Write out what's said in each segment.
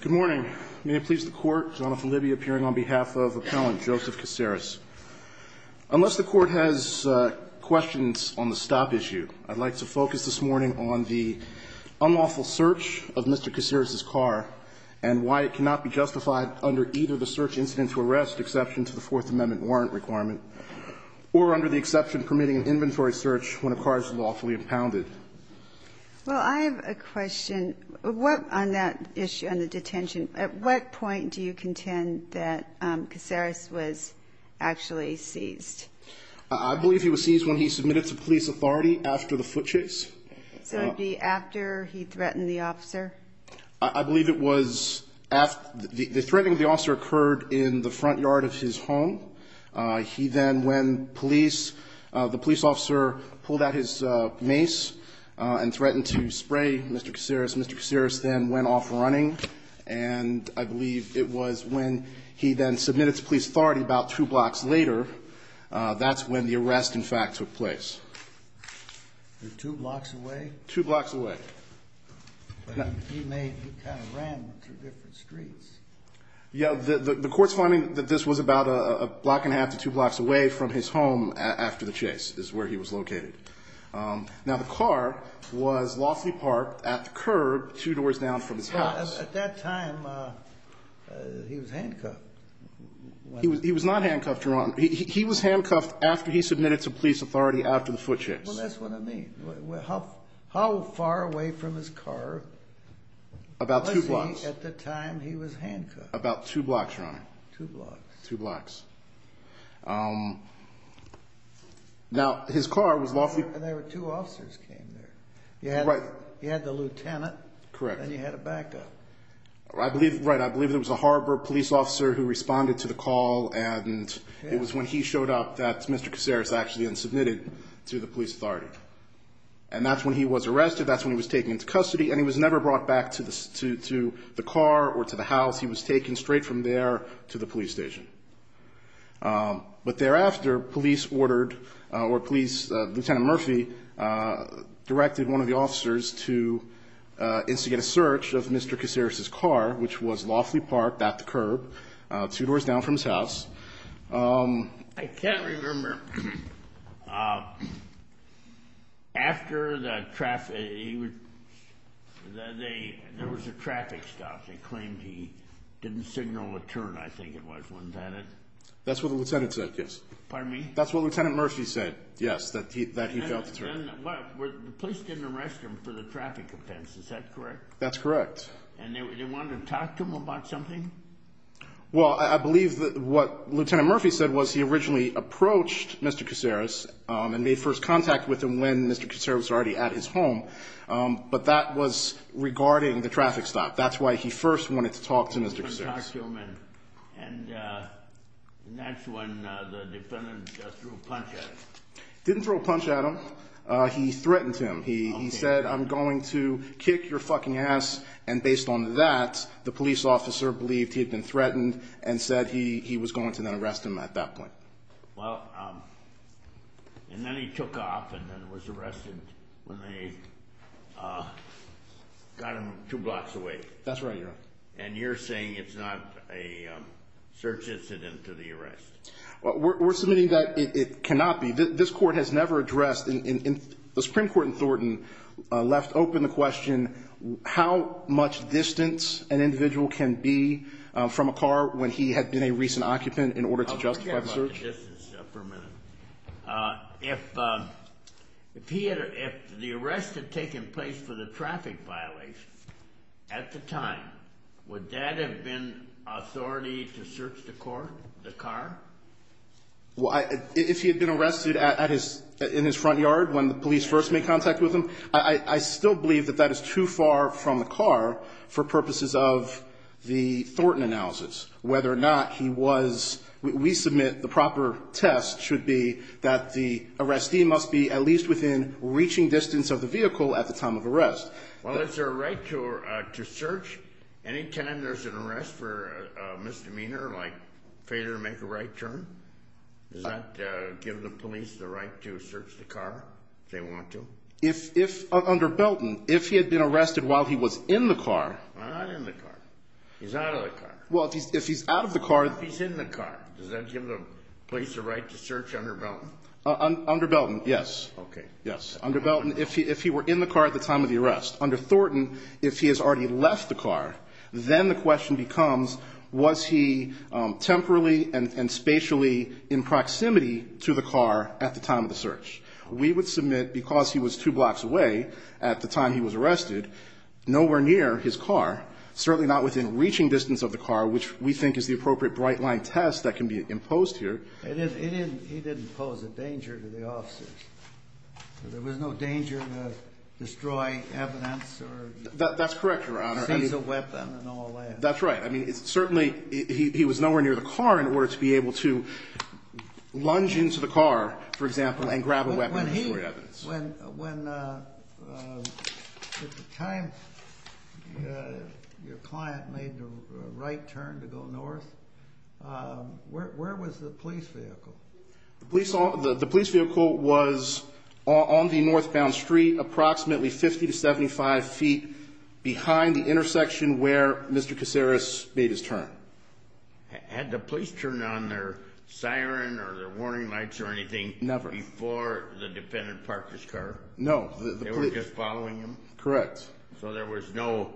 Good morning. May it please the Court, John F. Libby appearing on behalf of Appellant Joseph Caseres. Unless the Court has questions on the stop issue, I'd like to focus this morning on the unlawful search of Mr. Caseres' car and why it cannot be justified under either the search incident to arrest exception to the Fourth Amendment warrant requirement or under the exception permitting an inventory search when a car is lawfully impounded. Well, I have a question. On that issue, on the detention, at what point do you contend that Caseres was actually seized? I believe he was seized when he submitted to police authority after the foot chase. So it would be after he threatened the officer? I believe it was after the threatening of the officer occurred in the front yard of his home. He then, when police, the police officer pulled out his mace, and threatened to spray Mr. Caseres. Mr. Caseres then went off running, and I believe it was when he then submitted to police authority about two blocks later. That's when the arrest, in fact, took place. Two blocks away? Two blocks away. He may have kind of ran through different streets. Yeah, the Court's finding that this was about a block and a half to two blocks away from his home after the chase is where he was located. Now, the car was lawfully parked at the curb two doors down from his house. At that time, he was handcuffed? He was not handcuffed, Your Honor. He was handcuffed after he submitted to police authority after the foot chase. Well, that's what I mean. How far away from his car was he at the time he was handcuffed? About two blocks, Your Honor. Two blocks. Now, his car was lawfully... And there were two officers came there. You had the lieutenant. Correct. And you had a backup. Right. I believe it was a Harbor police officer who responded to the call, and it was when he showed up that Mr. Caseres actually unsubmitted to the police authority. And that's when he was arrested. That's when he was taken into custody, and he was never brought back to the car or to the house. He was taken straight from there to the police station. But thereafter, police ordered, or police, Lieutenant Murphy, directed one of the officers to instigate a search of Mr. Caseres' car, which was lawfully parked at the curb two doors down from his house. I can't remember. After the traffic... There was a traffic stop. They claimed he didn't signal a turn, I think it was. Wasn't that it? That's what the lieutenant said, yes. Pardon me? That's what Lieutenant Murphy said, yes, that he felt a turn. The police didn't arrest him for the traffic offense. Is that correct? That's correct. And they wanted to talk to him about something? Well, I believe that what Lieutenant Murphy said was he originally approached Mr. Caseres and made first contact with him when Mr. Caseres was already at his home. But that was regarding the traffic stop. That's why he first wanted to talk to Mr. Caseres. And that's when the defendant threw a punch at him? Didn't throw a punch at him. He threatened him. He said, I'm going to kick your fucking ass. And based on that, the police officer believed he had been threatened and said he was going to then arrest him at that point. And then he took off and was arrested when they got him two blocks away. That's right, Your Honor. And you're saying it's not a search incident to the arrest? We're submitting that it cannot be. This court has never addressed... The Supreme Court in Thornton left open the question, how much distance an individual can be from a car when he had been a recent occupant in order to justify the search? I'll forget about the distance for a minute. If the arrest had taken place for the traffic violation at the time, would that have been authority to search the car? If he had been arrested in his front yard when the police first made contact with him, I still believe that that is too far from the car for purposes of the Thornton analysis. Whether or not he was... We submit the proper test should be that the arrestee must be at least within reaching distance of the vehicle at the time of arrest. Well, is there a right to search any time there's an arrest for a misdemeanor like failure to make a right turn? Does that give the police the right to search the car if they want to? Under Belton, if he had been arrested while he was in the car... Not in the car. He's out of the car. Well, if he's out of the car... If he's in the car, does that give the police the right to search under Belton? Under Belton, yes. Okay, yes. Under Belton, if he were in the car at the time of the arrest. Under Thornton, if he has already left the car, then the question becomes, was he temporarily and spatially in proximity to the car at the time of the search? We would submit, because he was two blocks away at the time he was arrested, nowhere near his car, certainly not within reaching distance of the car, which we think is the appropriate bright-line test that can be imposed here. He didn't pose a danger to the officers. There was no danger to destroy evidence or... That's correct, Your Honor. ...since a weapon and all that. That's right. Certainly, he was nowhere near the car in order to be able to lunge into the car, for example, and grab a weapon and destroy evidence. When, at the time, your client made the right turn to go north, where was the police vehicle? The police vehicle was on the northbound street, approximately 50 to 75 feet behind the intersection where Mr. Caceres made his turn. Had the police turned on their siren or their warning lights or anything... Never. ...before the defendant parked his car? No. They were just following him? Correct. So there was no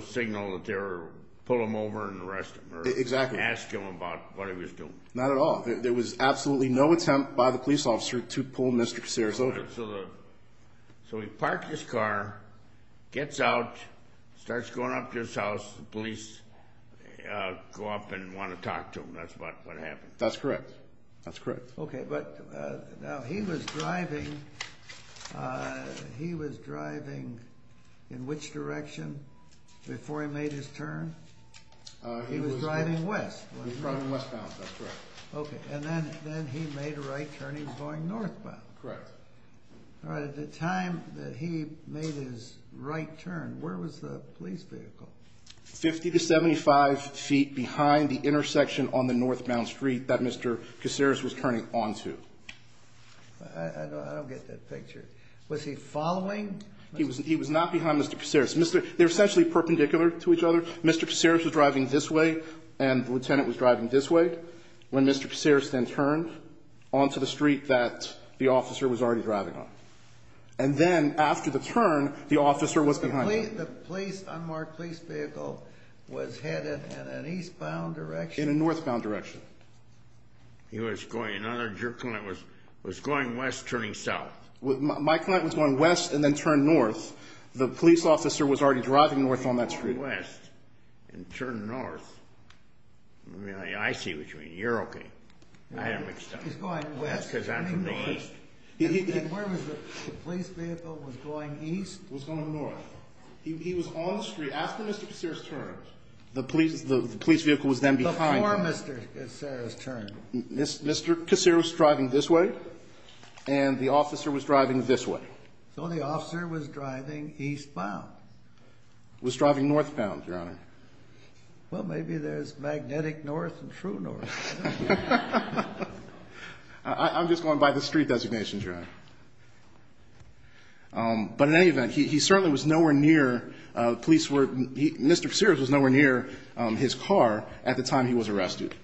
signal that they were pull him over and arrest him... Exactly. ...or ask him about what he was doing? Not at all. There was absolutely no attempt by the police officer to pull Mr. Caceres over. So he parked his car, gets out, starts going up to his house. The police go up and want to talk to him. That's what happened. That's correct. That's correct. Okay, but now he was driving in which direction before he made his turn? He was driving west. He was driving westbound. That's correct. Okay, and then he made a right turn. He was going northbound. Correct. All right, at the time that he made his right turn, where was the police vehicle? 50 to 75 feet behind the intersection on the northbound street that Mr. Caceres was turning onto. I don't get that picture. Was he following? He was not behind Mr. Caceres. They were essentially perpendicular to each other. Mr. Caceres was driving this way and the lieutenant was driving this way. When Mr. Caceres then turned onto the street that the officer was already driving on. And then after the turn, the officer was behind him. The police, unmarked police vehicle, was headed in an eastbound direction? In a northbound direction. He was going, another client was going west, turning south. My client was going west and then turned north. The police officer was already driving north on that street. He was going west and turned north. I mean, I see what you mean. You're okay. I don't understand. He's going west. Because I'm from the east. And where was the police vehicle was going east? It was going north. He was on the street after Mr. Caceres' turn. The police vehicle was then behind him. Before Mr. Caceres' turn. Mr. Caceres was driving this way and the officer was driving this way. So the officer was driving eastbound. Was driving northbound, Your Honor. Well, maybe there's magnetic north and true north. I'm just going by the street designation, Your Honor. But in any event, he certainly was nowhere near, police were, Mr. Caceres was nowhere near his car at the time he was arrested.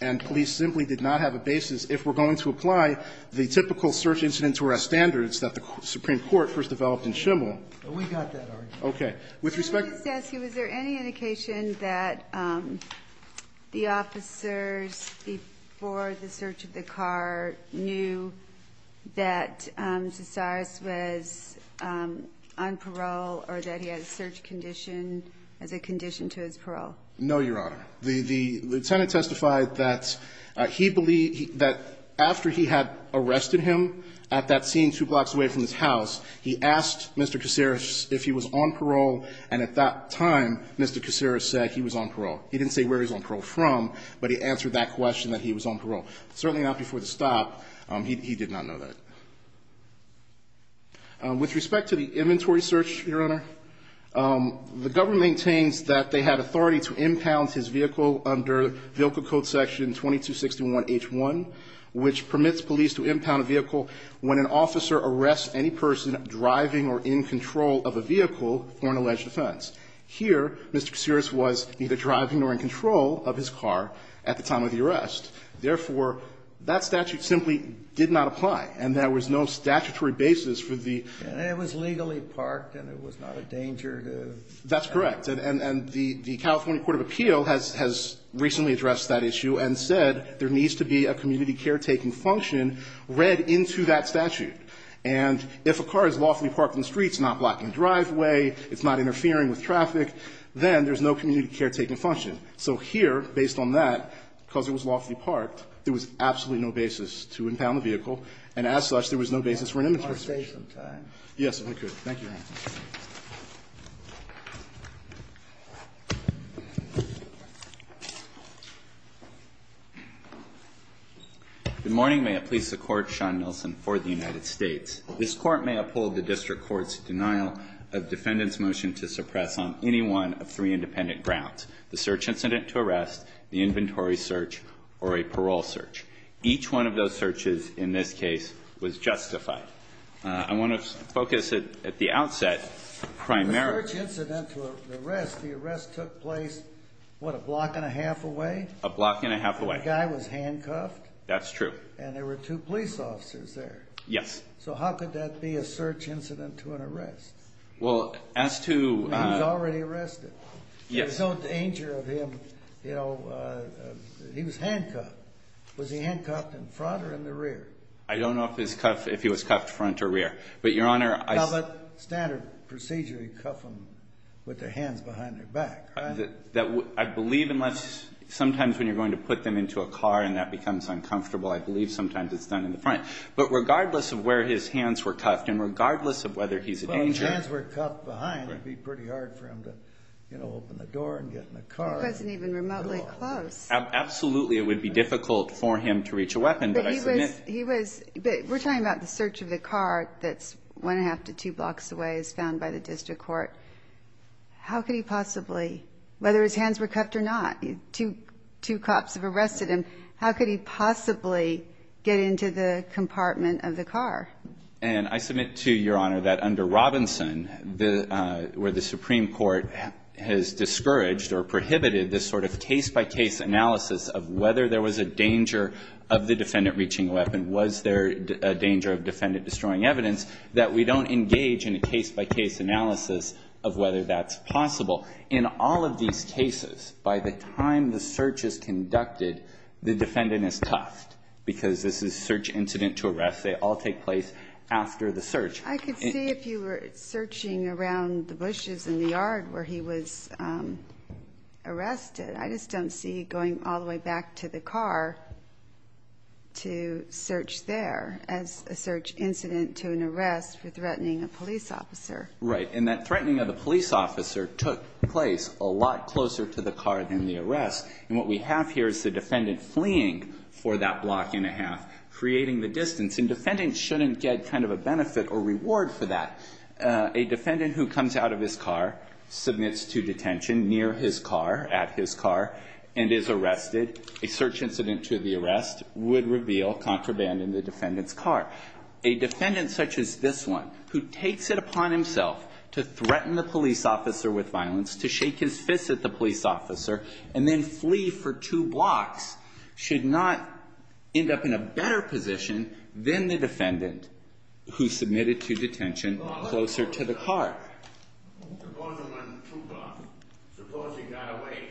And police simply did not have a basis. If we're going to apply the typical search incident to our standards that the Supreme Court first developed in Schimel. We got that argument. Okay. With respect to. Let me just ask you, was there any indication that the officers before the search of the car knew that Caceres was on parole or that he had a search condition as a condition to his parole? No, Your Honor. The lieutenant testified that he believed that after he had arrested him at that scene two blocks away from his house. He asked Mr. Caceres if he was on parole. And at that time, Mr. Caceres said he was on parole. He didn't say where he was on parole from, but he answered that question that he was on parole. Certainly not before the stop. He did not know that. With respect to the inventory search, Your Honor. The government maintains that they had authority to impound his vehicle under VILCA code section 2261H1, which permits police to impound a vehicle when an officer arrests any person driving or in control of a vehicle for an alleged offense. Here, Mr. Caceres was neither driving nor in control of his car at the time of the arrest. Therefore, that statute simply did not apply. And there was no statutory basis for the. And it was legally parked and it was not a danger to. That's correct. And the California court of appeal has recently addressed that issue and said there needs to be a community caretaking function read into that statute. And if a car is lawfully parked on the streets, not blocking the driveway, it's not interfering with traffic, then there's no community caretaking function. So here, based on that, because it was lawfully parked, there was absolutely no basis to impound the vehicle, and as such, there was no basis for an inventory Thank you, Your Honor. Can I stay some time? Yes, I could. Thank you, Your Honor. Good morning. May it please the Court. Sean Nilsen for the United States. This Court may uphold the district court's denial of defendant's motion to suppress on any one of three independent grounds, the search incident to arrest, the inventory search, or a parole search. Each one of those searches in this case was justified. I want to focus at the outset primarily The search incident to arrest, the arrest took place, what, a block and a half away? A block and a half away. The guy was handcuffed? That's true. And there were two police officers there? Yes. So how could that be a search incident to an arrest? Well, as to He was already arrested. Yes. There was no danger of him, you know, he was handcuffed. Was he handcuffed in front or in the rear? I don't know if his cuff, if he was cuffed front or rear. But, Your Honor, I Now, but standard procedure, you cuff him with the hands behind their back, right? That, I believe unless, sometimes when you're going to put them into a car and that becomes uncomfortable, I believe sometimes it's done in the front. But regardless of where his hands were cuffed and regardless of whether he's in danger Well, if his hands were cuffed behind, it would be pretty hard for him to, you know, open the door and get in the car. It wasn't even remotely close. Absolutely, it would be difficult for him to reach a weapon, but I submit But he was, we're talking about the search of the car that's one half to two blocks away as found by the district court. How could he possibly, whether his hands were cuffed or not, two cops have arrested him, how could he possibly get into the compartment of the car? And I submit to Your Honor that under Robinson, where the Supreme Court has discouraged or prohibited this sort of case-by-case analysis of whether there was a danger of the defendant reaching a weapon, was there a danger of defendant destroying evidence, that we don't engage in a case-by-case analysis of whether that's possible. In all of these cases, by the time the search is conducted, the defendant is cuffed because this is search incident to arrest. They all take place after the search. I could see if you were searching around the bushes in the yard where he was arrested. I just don't see going all the way back to the car to search there as a search incident to an arrest for threatening a police officer. Right. And that threatening of the police officer took place a lot closer to the car than the arrest, and what we have here is the defendant fleeing for that block and a half, creating the distance. And defendants shouldn't get kind of a benefit or reward for that. A defendant who comes out of his car, submits to detention near his car, at his car, and is arrested, a search incident to the arrest would reveal contraband in the defendant's car. A defendant such as this one, who takes it upon himself to threaten the police officer with violence, to shake his fist at the police officer, and then flee for a better position than the defendant who submitted to detention closer to the car. Suppose he got away,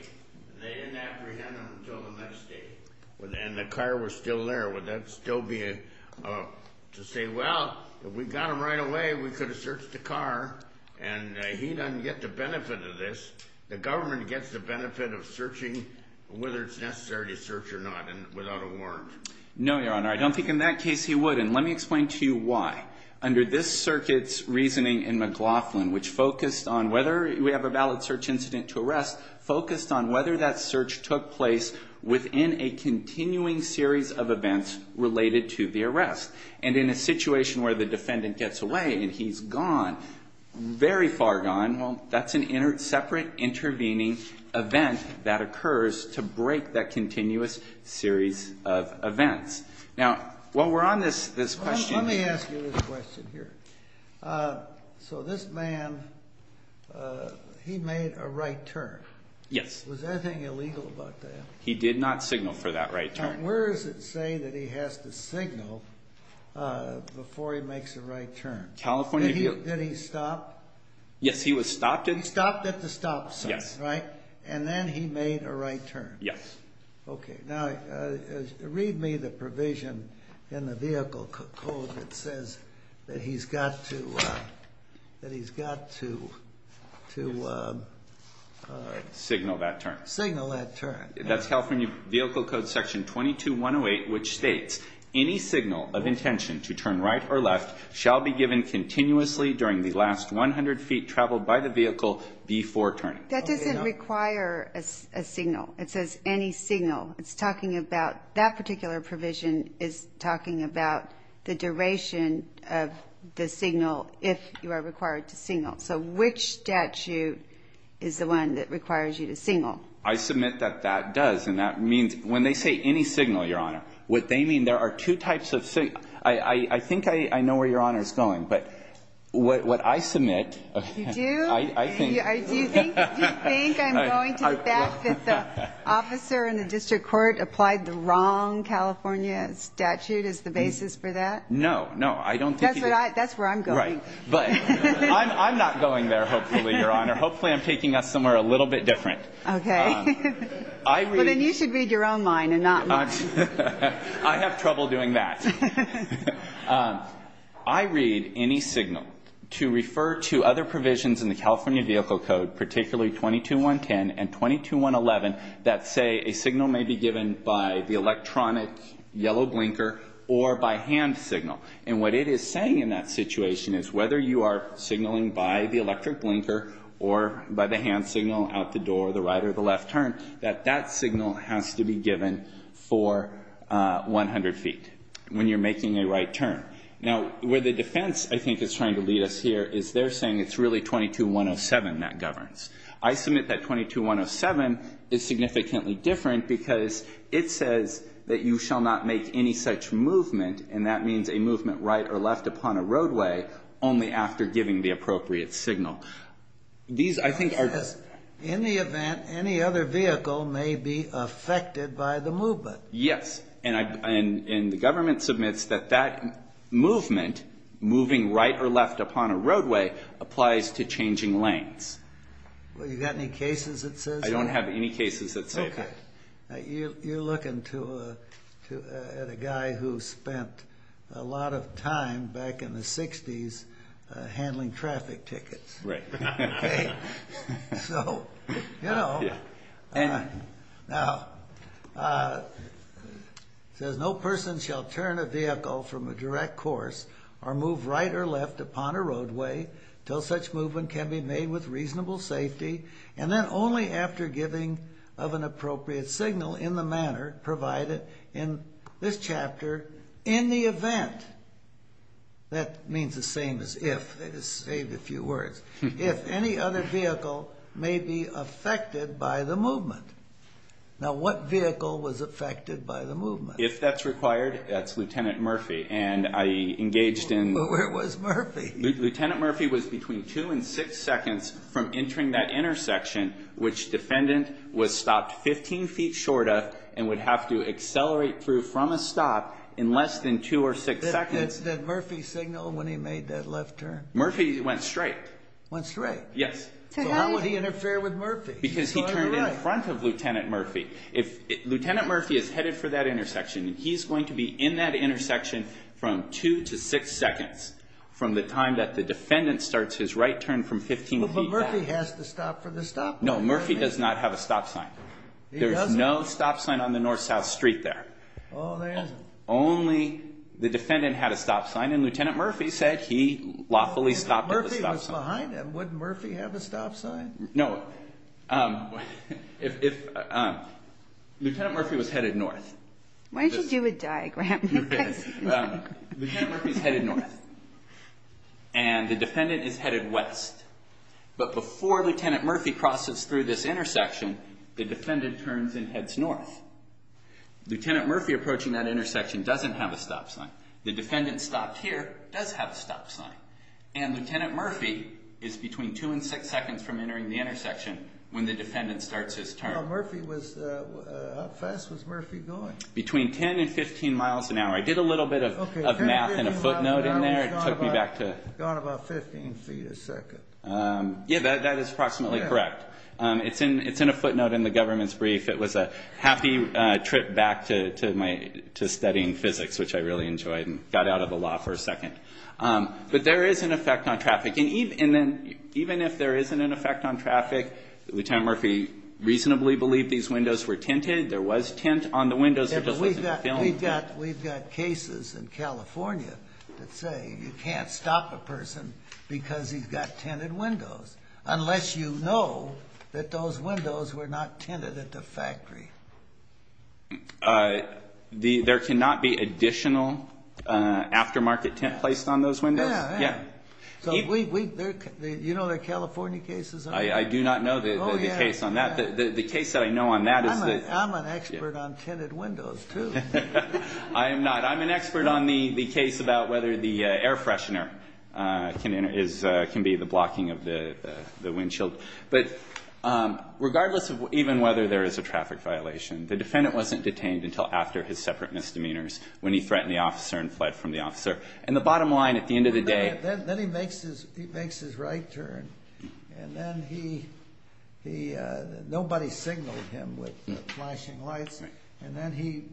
and they didn't apprehend him until the next day, and the car was still there. Would that still be to say, well, if we got him right away, we could have searched the car, and he doesn't get the benefit of this. The government gets the benefit of searching, whether it's necessary to search or not, without a warrant. No, Your Honor. I don't think in that case he would. And let me explain to you why. Under this circuit's reasoning in McLaughlin, which focused on whether we have a valid search incident to arrest, focused on whether that search took place within a continuing series of events related to the arrest. And in a situation where the defendant gets away, and he's gone, very far gone, well, that's a separate intervening event that occurs to break that continuous series of events. Now, while we're on this question. Let me ask you this question here. So this man, he made a right turn. Yes. Was anything illegal about that? He did not signal for that right turn. And where does it say that he has to signal before he makes a right turn? California Bureau. Did he stop? Yes, he was stopped at the stop sign. Yes. Right? And then he made a right turn. Yes. Okay. Now, read me the provision in the vehicle code that says that he's got to signal that turn. Signal that turn. That's California Vehicle Code Section 22-108, which states, any signal of intention to turn right or left shall be given continuously during the last 100 feet traveled by the vehicle before turning. That doesn't require a signal. It says any signal. It's talking about that particular provision is talking about the duration of the signal if you are required to signal. So which statute is the one that requires you to signal? I submit that that does. And that means when they say any signal, Your Honor, what they mean, there are two types of signals. I think I know where Your Honor is going. But what I submit. You do? I think. Do you think I'm going to the fact that the officer in the district court applied the wrong California statute as the basis for that? No, no. I don't think he did. That's where I'm going. Right. But I'm not going there, hopefully, Your Honor. Hopefully I'm taking us somewhere a little bit different. Okay. Well, then you should read your own line and not mine. I have trouble doing that. I read any signal to refer to other provisions in the California Vehicle Code, particularly 22110 and 22111 that say a signal may be given by the electronic yellow blinker or by hand signal. And what it is saying in that situation is whether you are signaling by the electric blinker or by the hand signal out the door, the right or the left turn, that that signal has to be given for 100 feet. When you're making a right turn. Now, where the defense, I think, is trying to lead us here is they're saying it's really 22107 that governs. I submit that 22107 is significantly different because it says that you shall not make any such movement, and that means a movement right or left upon a roadway only after giving the appropriate signal. These, I think, are just... In the event any other vehicle may be affected by the movement. Yes. And the government submits that that movement, moving right or left upon a roadway, applies to changing lanes. Well, you got any cases that says that? I don't have any cases that say that. Okay. You're looking at a guy who spent a lot of time back in the 60s handling traffic tickets. Right. Okay? So, you know. Now, it says no person shall turn a vehicle from a direct course or move right or left upon a roadway until such movement can be made with reasonable safety, and then only after giving of an appropriate signal in the manner provided in this chapter in the event. That means the same as if. They just saved a few words. If any other vehicle may be affected by the movement. Now, what vehicle was affected by the movement? If that's required, that's Lieutenant Murphy. And I engaged in... Where was Murphy? Lieutenant Murphy was between two and six seconds from entering that intersection, which defendant was stopped 15 feet short of and would have to accelerate through from a stop in less than two or six seconds. Did Murphy signal when he made that left turn? Murphy went straight. Went straight? Yes. So how would he interfere with Murphy? Because he turned in front of Lieutenant Murphy. Lieutenant Murphy is headed for that intersection, and he's going to be in that intersection from two to six seconds from the time that the defendant starts his right turn from 15 feet back. But Murphy has to stop for the stop sign. No, Murphy does not have a stop sign. There's no stop sign on the north-south street there. Oh, there isn't. Only the defendant had a stop sign, and Lieutenant Murphy said he lawfully stopped at the stop sign. If Murphy was behind him, would Murphy have a stop sign? No. Lieutenant Murphy was headed north. Why don't you do a diagram of this? Lieutenant Murphy's headed north, and the defendant is headed west. But before Lieutenant Murphy crosses through this intersection, the defendant turns and heads north. Lieutenant Murphy approaching that intersection doesn't have a stop sign. The defendant stopped here does have a stop sign. And Lieutenant Murphy is between two and six seconds from entering the intersection when the defendant starts his turn. How fast was Murphy going? Between 10 and 15 miles an hour. I did a little bit of math and a footnote in there. It took me back to 15 feet a second. Yeah, that is approximately correct. It's in a footnote in the government's brief. It was a happy trip back to studying physics, which I really enjoyed, and got out of the law for a second. But there is an effect on traffic. And even if there isn't an effect on traffic, Lieutenant Murphy reasonably believed these windows were tinted. There was tint on the windows. We've got cases in California that say you can't stop a person because he's got tinted windows unless you know that those windows were not tinted at the factory. There cannot be additional aftermarket tint placed on those windows? Yeah, yeah. You know there are California cases? I do not know the case on that. The case that I know on that is that... I'm an expert on tinted windows, too. I am not. I'm an expert on the case about whether the air freshener can be the blocking of the windshield. But regardless of even whether there is a traffic violation, the defendant wasn't detained until after his separate misdemeanors when he threatened the officer and fled from the officer. And the bottom line, at the end of the day... Then he makes his right turn. And then he... Nobody signaled him with flashing lights. And then he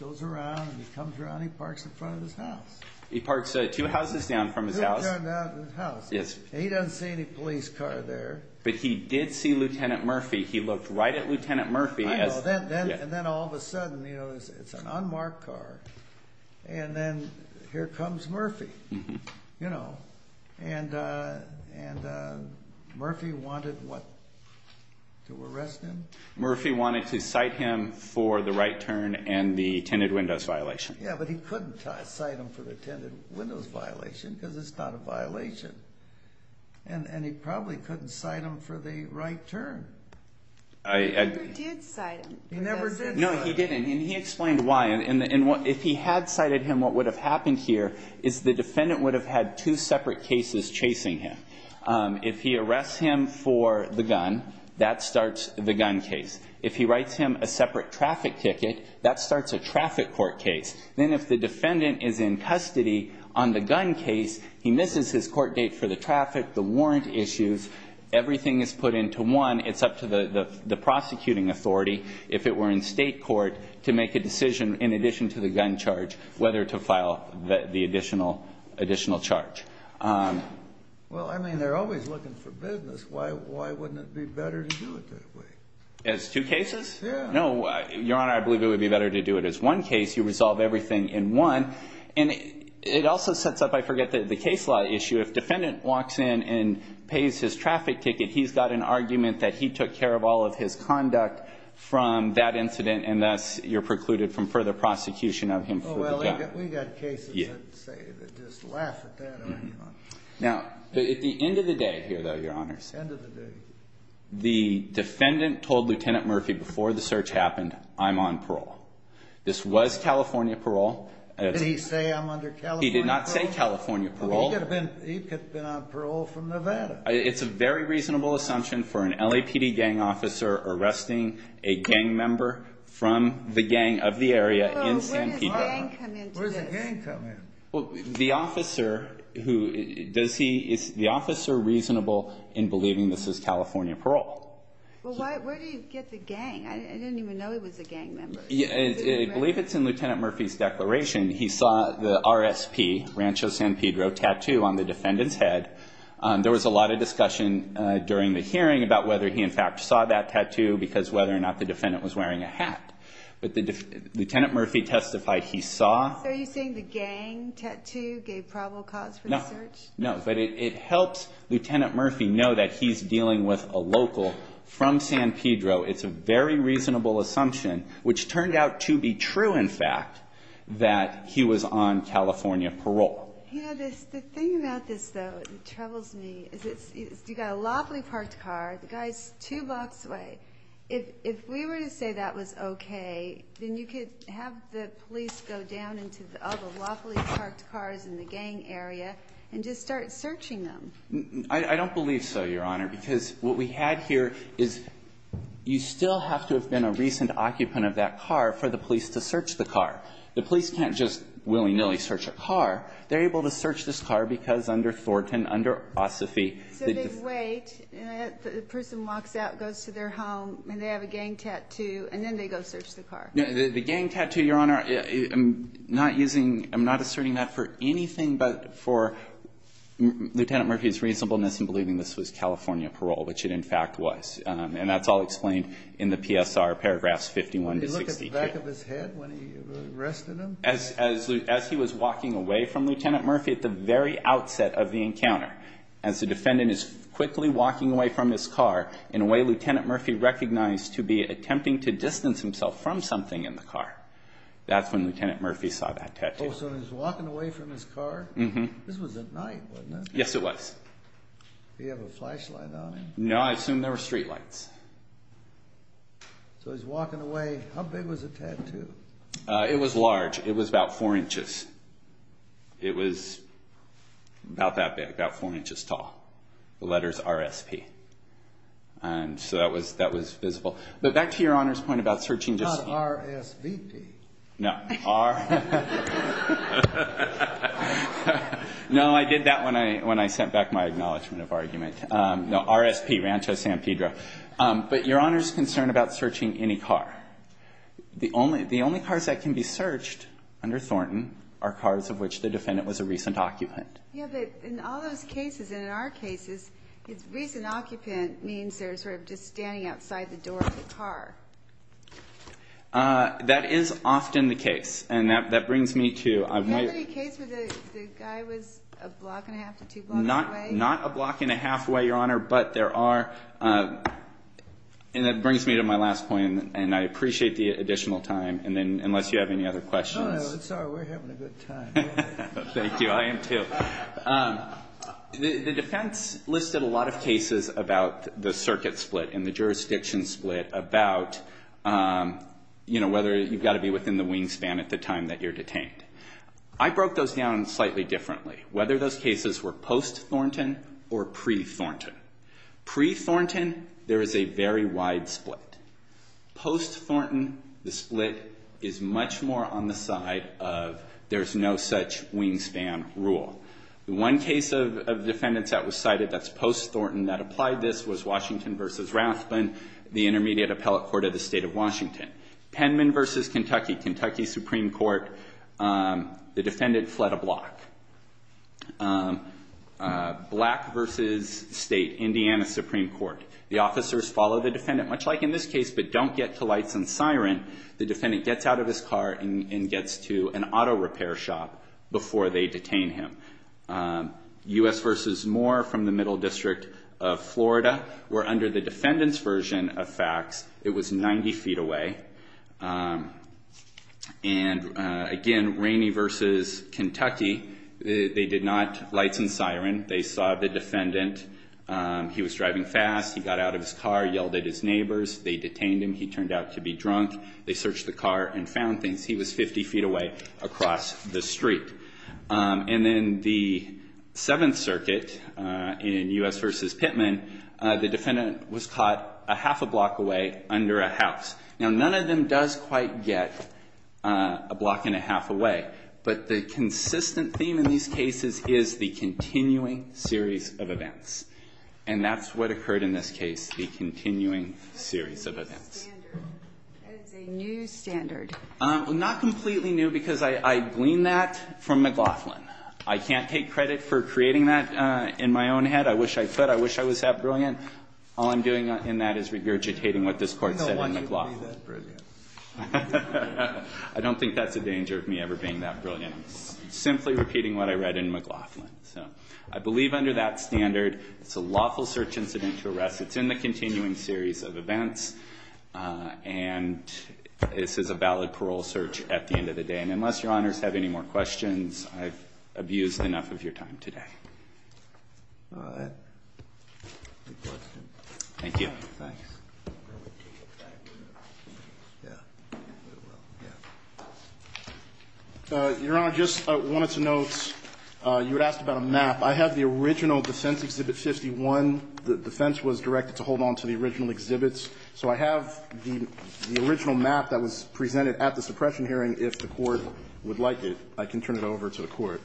goes around, and he comes around, and he parks in front of his house. He parks two houses down from his house. Two houses down from his house. Yes. And he doesn't see any police car there. But he did see Lieutenant Murphy. He looked right at Lieutenant Murphy. I know. And then all of a sudden, you know, it's an unmarked car. And then here comes Murphy. You know. And Murphy wanted what? To arrest him? Murphy wanted to cite him for the right turn and the tinted windows violation. Yeah, but he couldn't cite him for the tinted windows violation because it's not a violation. And he probably couldn't cite him for the right turn. He never did cite him. He never did cite him. No, he didn't. And he explained why. And if he had cited him, what would have happened here is the defendant would have had two separate cases chasing him. If he arrests him for the gun, that starts the gun case. If he writes him a separate traffic ticket, that starts a traffic court case. Then if the defendant is in custody on the gun case, he misses his court date for the traffic, the warrant issues. Everything is put into one. It's up to the prosecuting authority, if it were in state court, to make a decision in addition to the gun charge whether to file the additional charge. Well, I mean, they're always looking for business. Why wouldn't it be better to do it that way? As two cases? Yeah. No, Your Honor, I believe it would be better to do it as one case. You resolve everything in one. And it also sets up, I forget, the case law issue. If defendant walks in and pays his traffic ticket, he's got an argument that he took care of all of his conduct from that incident, and thus you're precluded from further prosecution of him for the gun. Oh, well, we've got cases, I'd say, that just laugh at that. Now, at the end of the day here, though, Your Honors, the defendant told Lieutenant Murphy before the search happened, I'm on parole. This was California parole. Did he say I'm under California parole? He did not say California parole. He could have been on parole from Nevada. It's a very reasonable assumption for an LAPD gang officer arresting a gang member from the gang of the area in San Pedro. Well, where does gang come into this? Where does a gang come in? Well, the officer who does he – is the officer reasonable in believing this is California parole? Well, where do you get the gang? I didn't even know he was a gang member. I believe it's in Lieutenant Murphy's declaration. He saw the RSP, Rancho San Pedro, tattoo on the defendant's head. There was a lot of discussion during the hearing about whether he, in fact, saw that tattoo because whether or not the defendant was wearing a hat. But Lieutenant Murphy testified he saw. So are you saying the gang tattoo gave probable cause for the search? No, but it helps Lieutenant Murphy know that he's dealing with a local from San Pedro. It's a very reasonable assumption, which turned out to be true, in fact, that he was on California parole. You know, the thing about this, though, that troubles me, is you've got a lawfully parked car, the guy's two blocks away. If we were to say that was okay, then you could have the police go down into all the lawfully parked cars in the gang area and just start searching them. I don't believe so, Your Honor, because what we had here is you still have to have been a recent occupant of that car for the police to search the car. The police can't just willy-nilly search a car. They're able to search this car because under Thornton, under Ossophy, the defendant So they wait, the person walks out, goes to their home, and they have a gang tattoo, and then they go search the car. The gang tattoo, Your Honor, I'm not using, I'm not asserting that for anything but for Lieutenant Murphy's reasonableness in believing this was California parole, which it, in fact, was. And that's all explained in the PSR, paragraphs 51 to 62. When he looked at the back of his head when he arrested him? As he was walking away from Lieutenant Murphy at the very outset of the encounter. As the defendant is quickly walking away from his car, in a way Lieutenant Murphy recognized to be attempting to distance himself from something in the car. That's when Lieutenant Murphy saw that tattoo. Oh, so when he was walking away from his car? Mm-hmm. This was at night, wasn't it? Yes, it was. Did he have a flashlight on him? No, I assume there were streetlights. So he's walking away. How big was the tattoo? It was large. It was about four inches. It was about that big, about four inches tall. The letters RSP. And so that was visible. But back to Your Honor's point about searching just Not RSVP. No, R. No, I did that when I sent back my acknowledgment of argument. No, RSP, Rancho San Pedro. But Your Honor's concerned about searching any car. The only cars that can be searched under Thornton are cars of which the defendant was a recent occupant. Yeah, but in all those cases, and in our cases, recent occupant means they're sort of just standing outside the door of the car. That is often the case. And that brings me to Did you have any case where the guy was a block and a half to two blocks away? Not a block and a half away, Your Honor, but there are And that brings me to my last point, and I appreciate the additional time. And then, unless you have any other questions No, no, it's all right. We're having a good time. Thank you. I am too. The defense listed a lot of cases about the circuit split and the jurisdiction split about whether you've got to be within the wingspan at the time that you're detained. I broke those down slightly differently, whether those cases were post-Thornton or pre-Thornton. Pre-Thornton, there is a very wide split. Post-Thornton, the split is much more on the side of there's no such wingspan rule. The one case of defendants that was cited that's post-Thornton that applied this was Washington v. Rathbun, the intermediate appellate court of the state of Washington. Penman v. Kentucky, Kentucky Supreme Court, the defendant fled a block. Black v. State, Indiana Supreme Court, the officers follow the defendant, much like in this case, but don't get to lights and siren. The defendant gets out of his car and gets to an auto repair shop before they detain him. U.S. v. Moore from the Middle District of Florida were under the defendant's version of facts. It was 90 feet away. And again, Rainey v. Kentucky, they did not lights and siren. They saw the defendant. He was driving fast. He got out of his car, yelled at his neighbors. They detained him. He turned out to be drunk. They searched the car and found things. He was 50 feet away across the street. And then the Seventh Circuit in U.S. v. Pitman, the defendant was caught a half a block away under a house. Now, none of them does quite get a block and a half away, but the consistent theme in these cases is the continuing series of events. And that's what occurred in this case, the continuing series of events. That's a new standard. Not completely new because I gleaned that from McLaughlin. I can't take credit for creating that in my own head. I wish I could. I wish I was that brilliant. All I'm doing in that is regurgitating what this court said in McLaughlin. I don't think that's a danger of me ever being that brilliant, simply repeating what I read in McLaughlin. So I believe under that standard, it's a lawful search incident to arrest. It's in the continuing series of events. And this is a valid parole search at the end of the day. And unless Your Honors have any more questions, I've abused enough of your time today. All right. Good question. Thank you. Thanks. Your Honor, just wanted to note, you were asked about a map. I have the original defense Exhibit 51. The defense was directed to hold on to the original exhibits. So I have the original map that was presented at the suppression hearing. If the Court would like it, I can turn it over to the Court.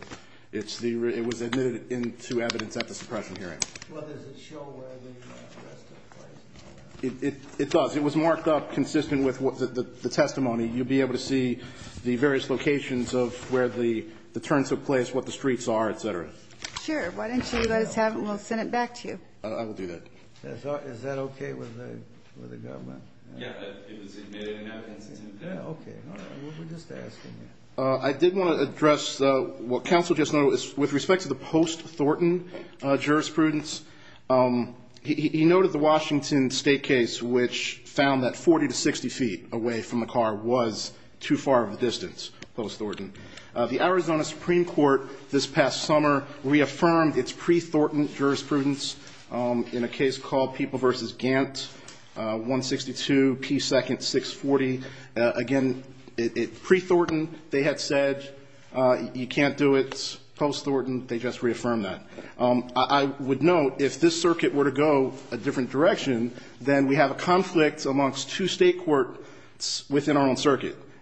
It was admitted into evidence at the suppression hearing. Well, does it show where the arrest took place? It does. It was marked up consistent with the testimony. You'll be able to see the various locations of where the turns took place, what the streets are, et cetera. Sure. Why don't you let us have it, and we'll send it back to you. I will do that. Is that okay with the government? Yeah. It was admitted in evidence. Okay. All right. We were just asking. I did want to address what counsel just noted. With respect to the post-Thornton jurisprudence, he noted the Washington State case, which found that 40 to 60 feet away from the car was too far of a distance, post-Thornton. The Arizona Supreme Court this past summer reaffirmed its pre-Thornton jurisprudence in a case called People v. Gantt, 162 P. 2nd. 640. Again, it's pre-Thornton. They had said you can't do it post-Thornton. They just reaffirmed that. I would note if this circuit were to go a different direction,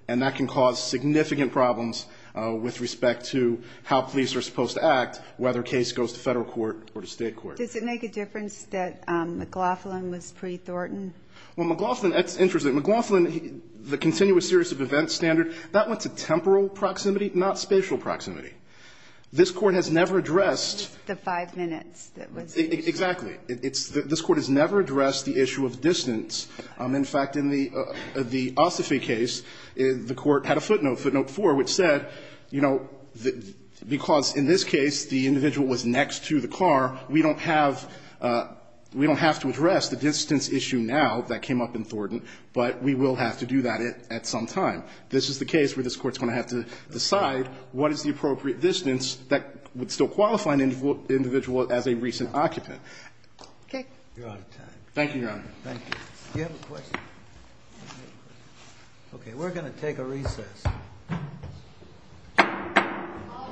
And that can cause significant problems with respect to how police are supposed to act, whether a case goes to Federal court or to State court. Does it make a difference that McLaughlin was pre-Thornton? Well, McLaughlin, that's interesting. McLaughlin, the continuous series of events standard, that went to temporal proximity, not spatial proximity. This Court has never addressed the five minutes that was used. Exactly. This Court has never addressed the issue of distance. In fact, in the Ossoffi case, the Court had a footnote, footnote 4, which said, you know, because in this case the individual was next to the car, we don't have to address the distance issue now that came up in Thornton, but we will have to do that at some time. This is the case where this Court is going to have to decide what is the appropriate distance that would still qualify an individual as a recent occupant. Okay. Thank you, Your Honor. Thank you. Do you have a question? Okay. We're going to take a recess. All rise. Court is in recess.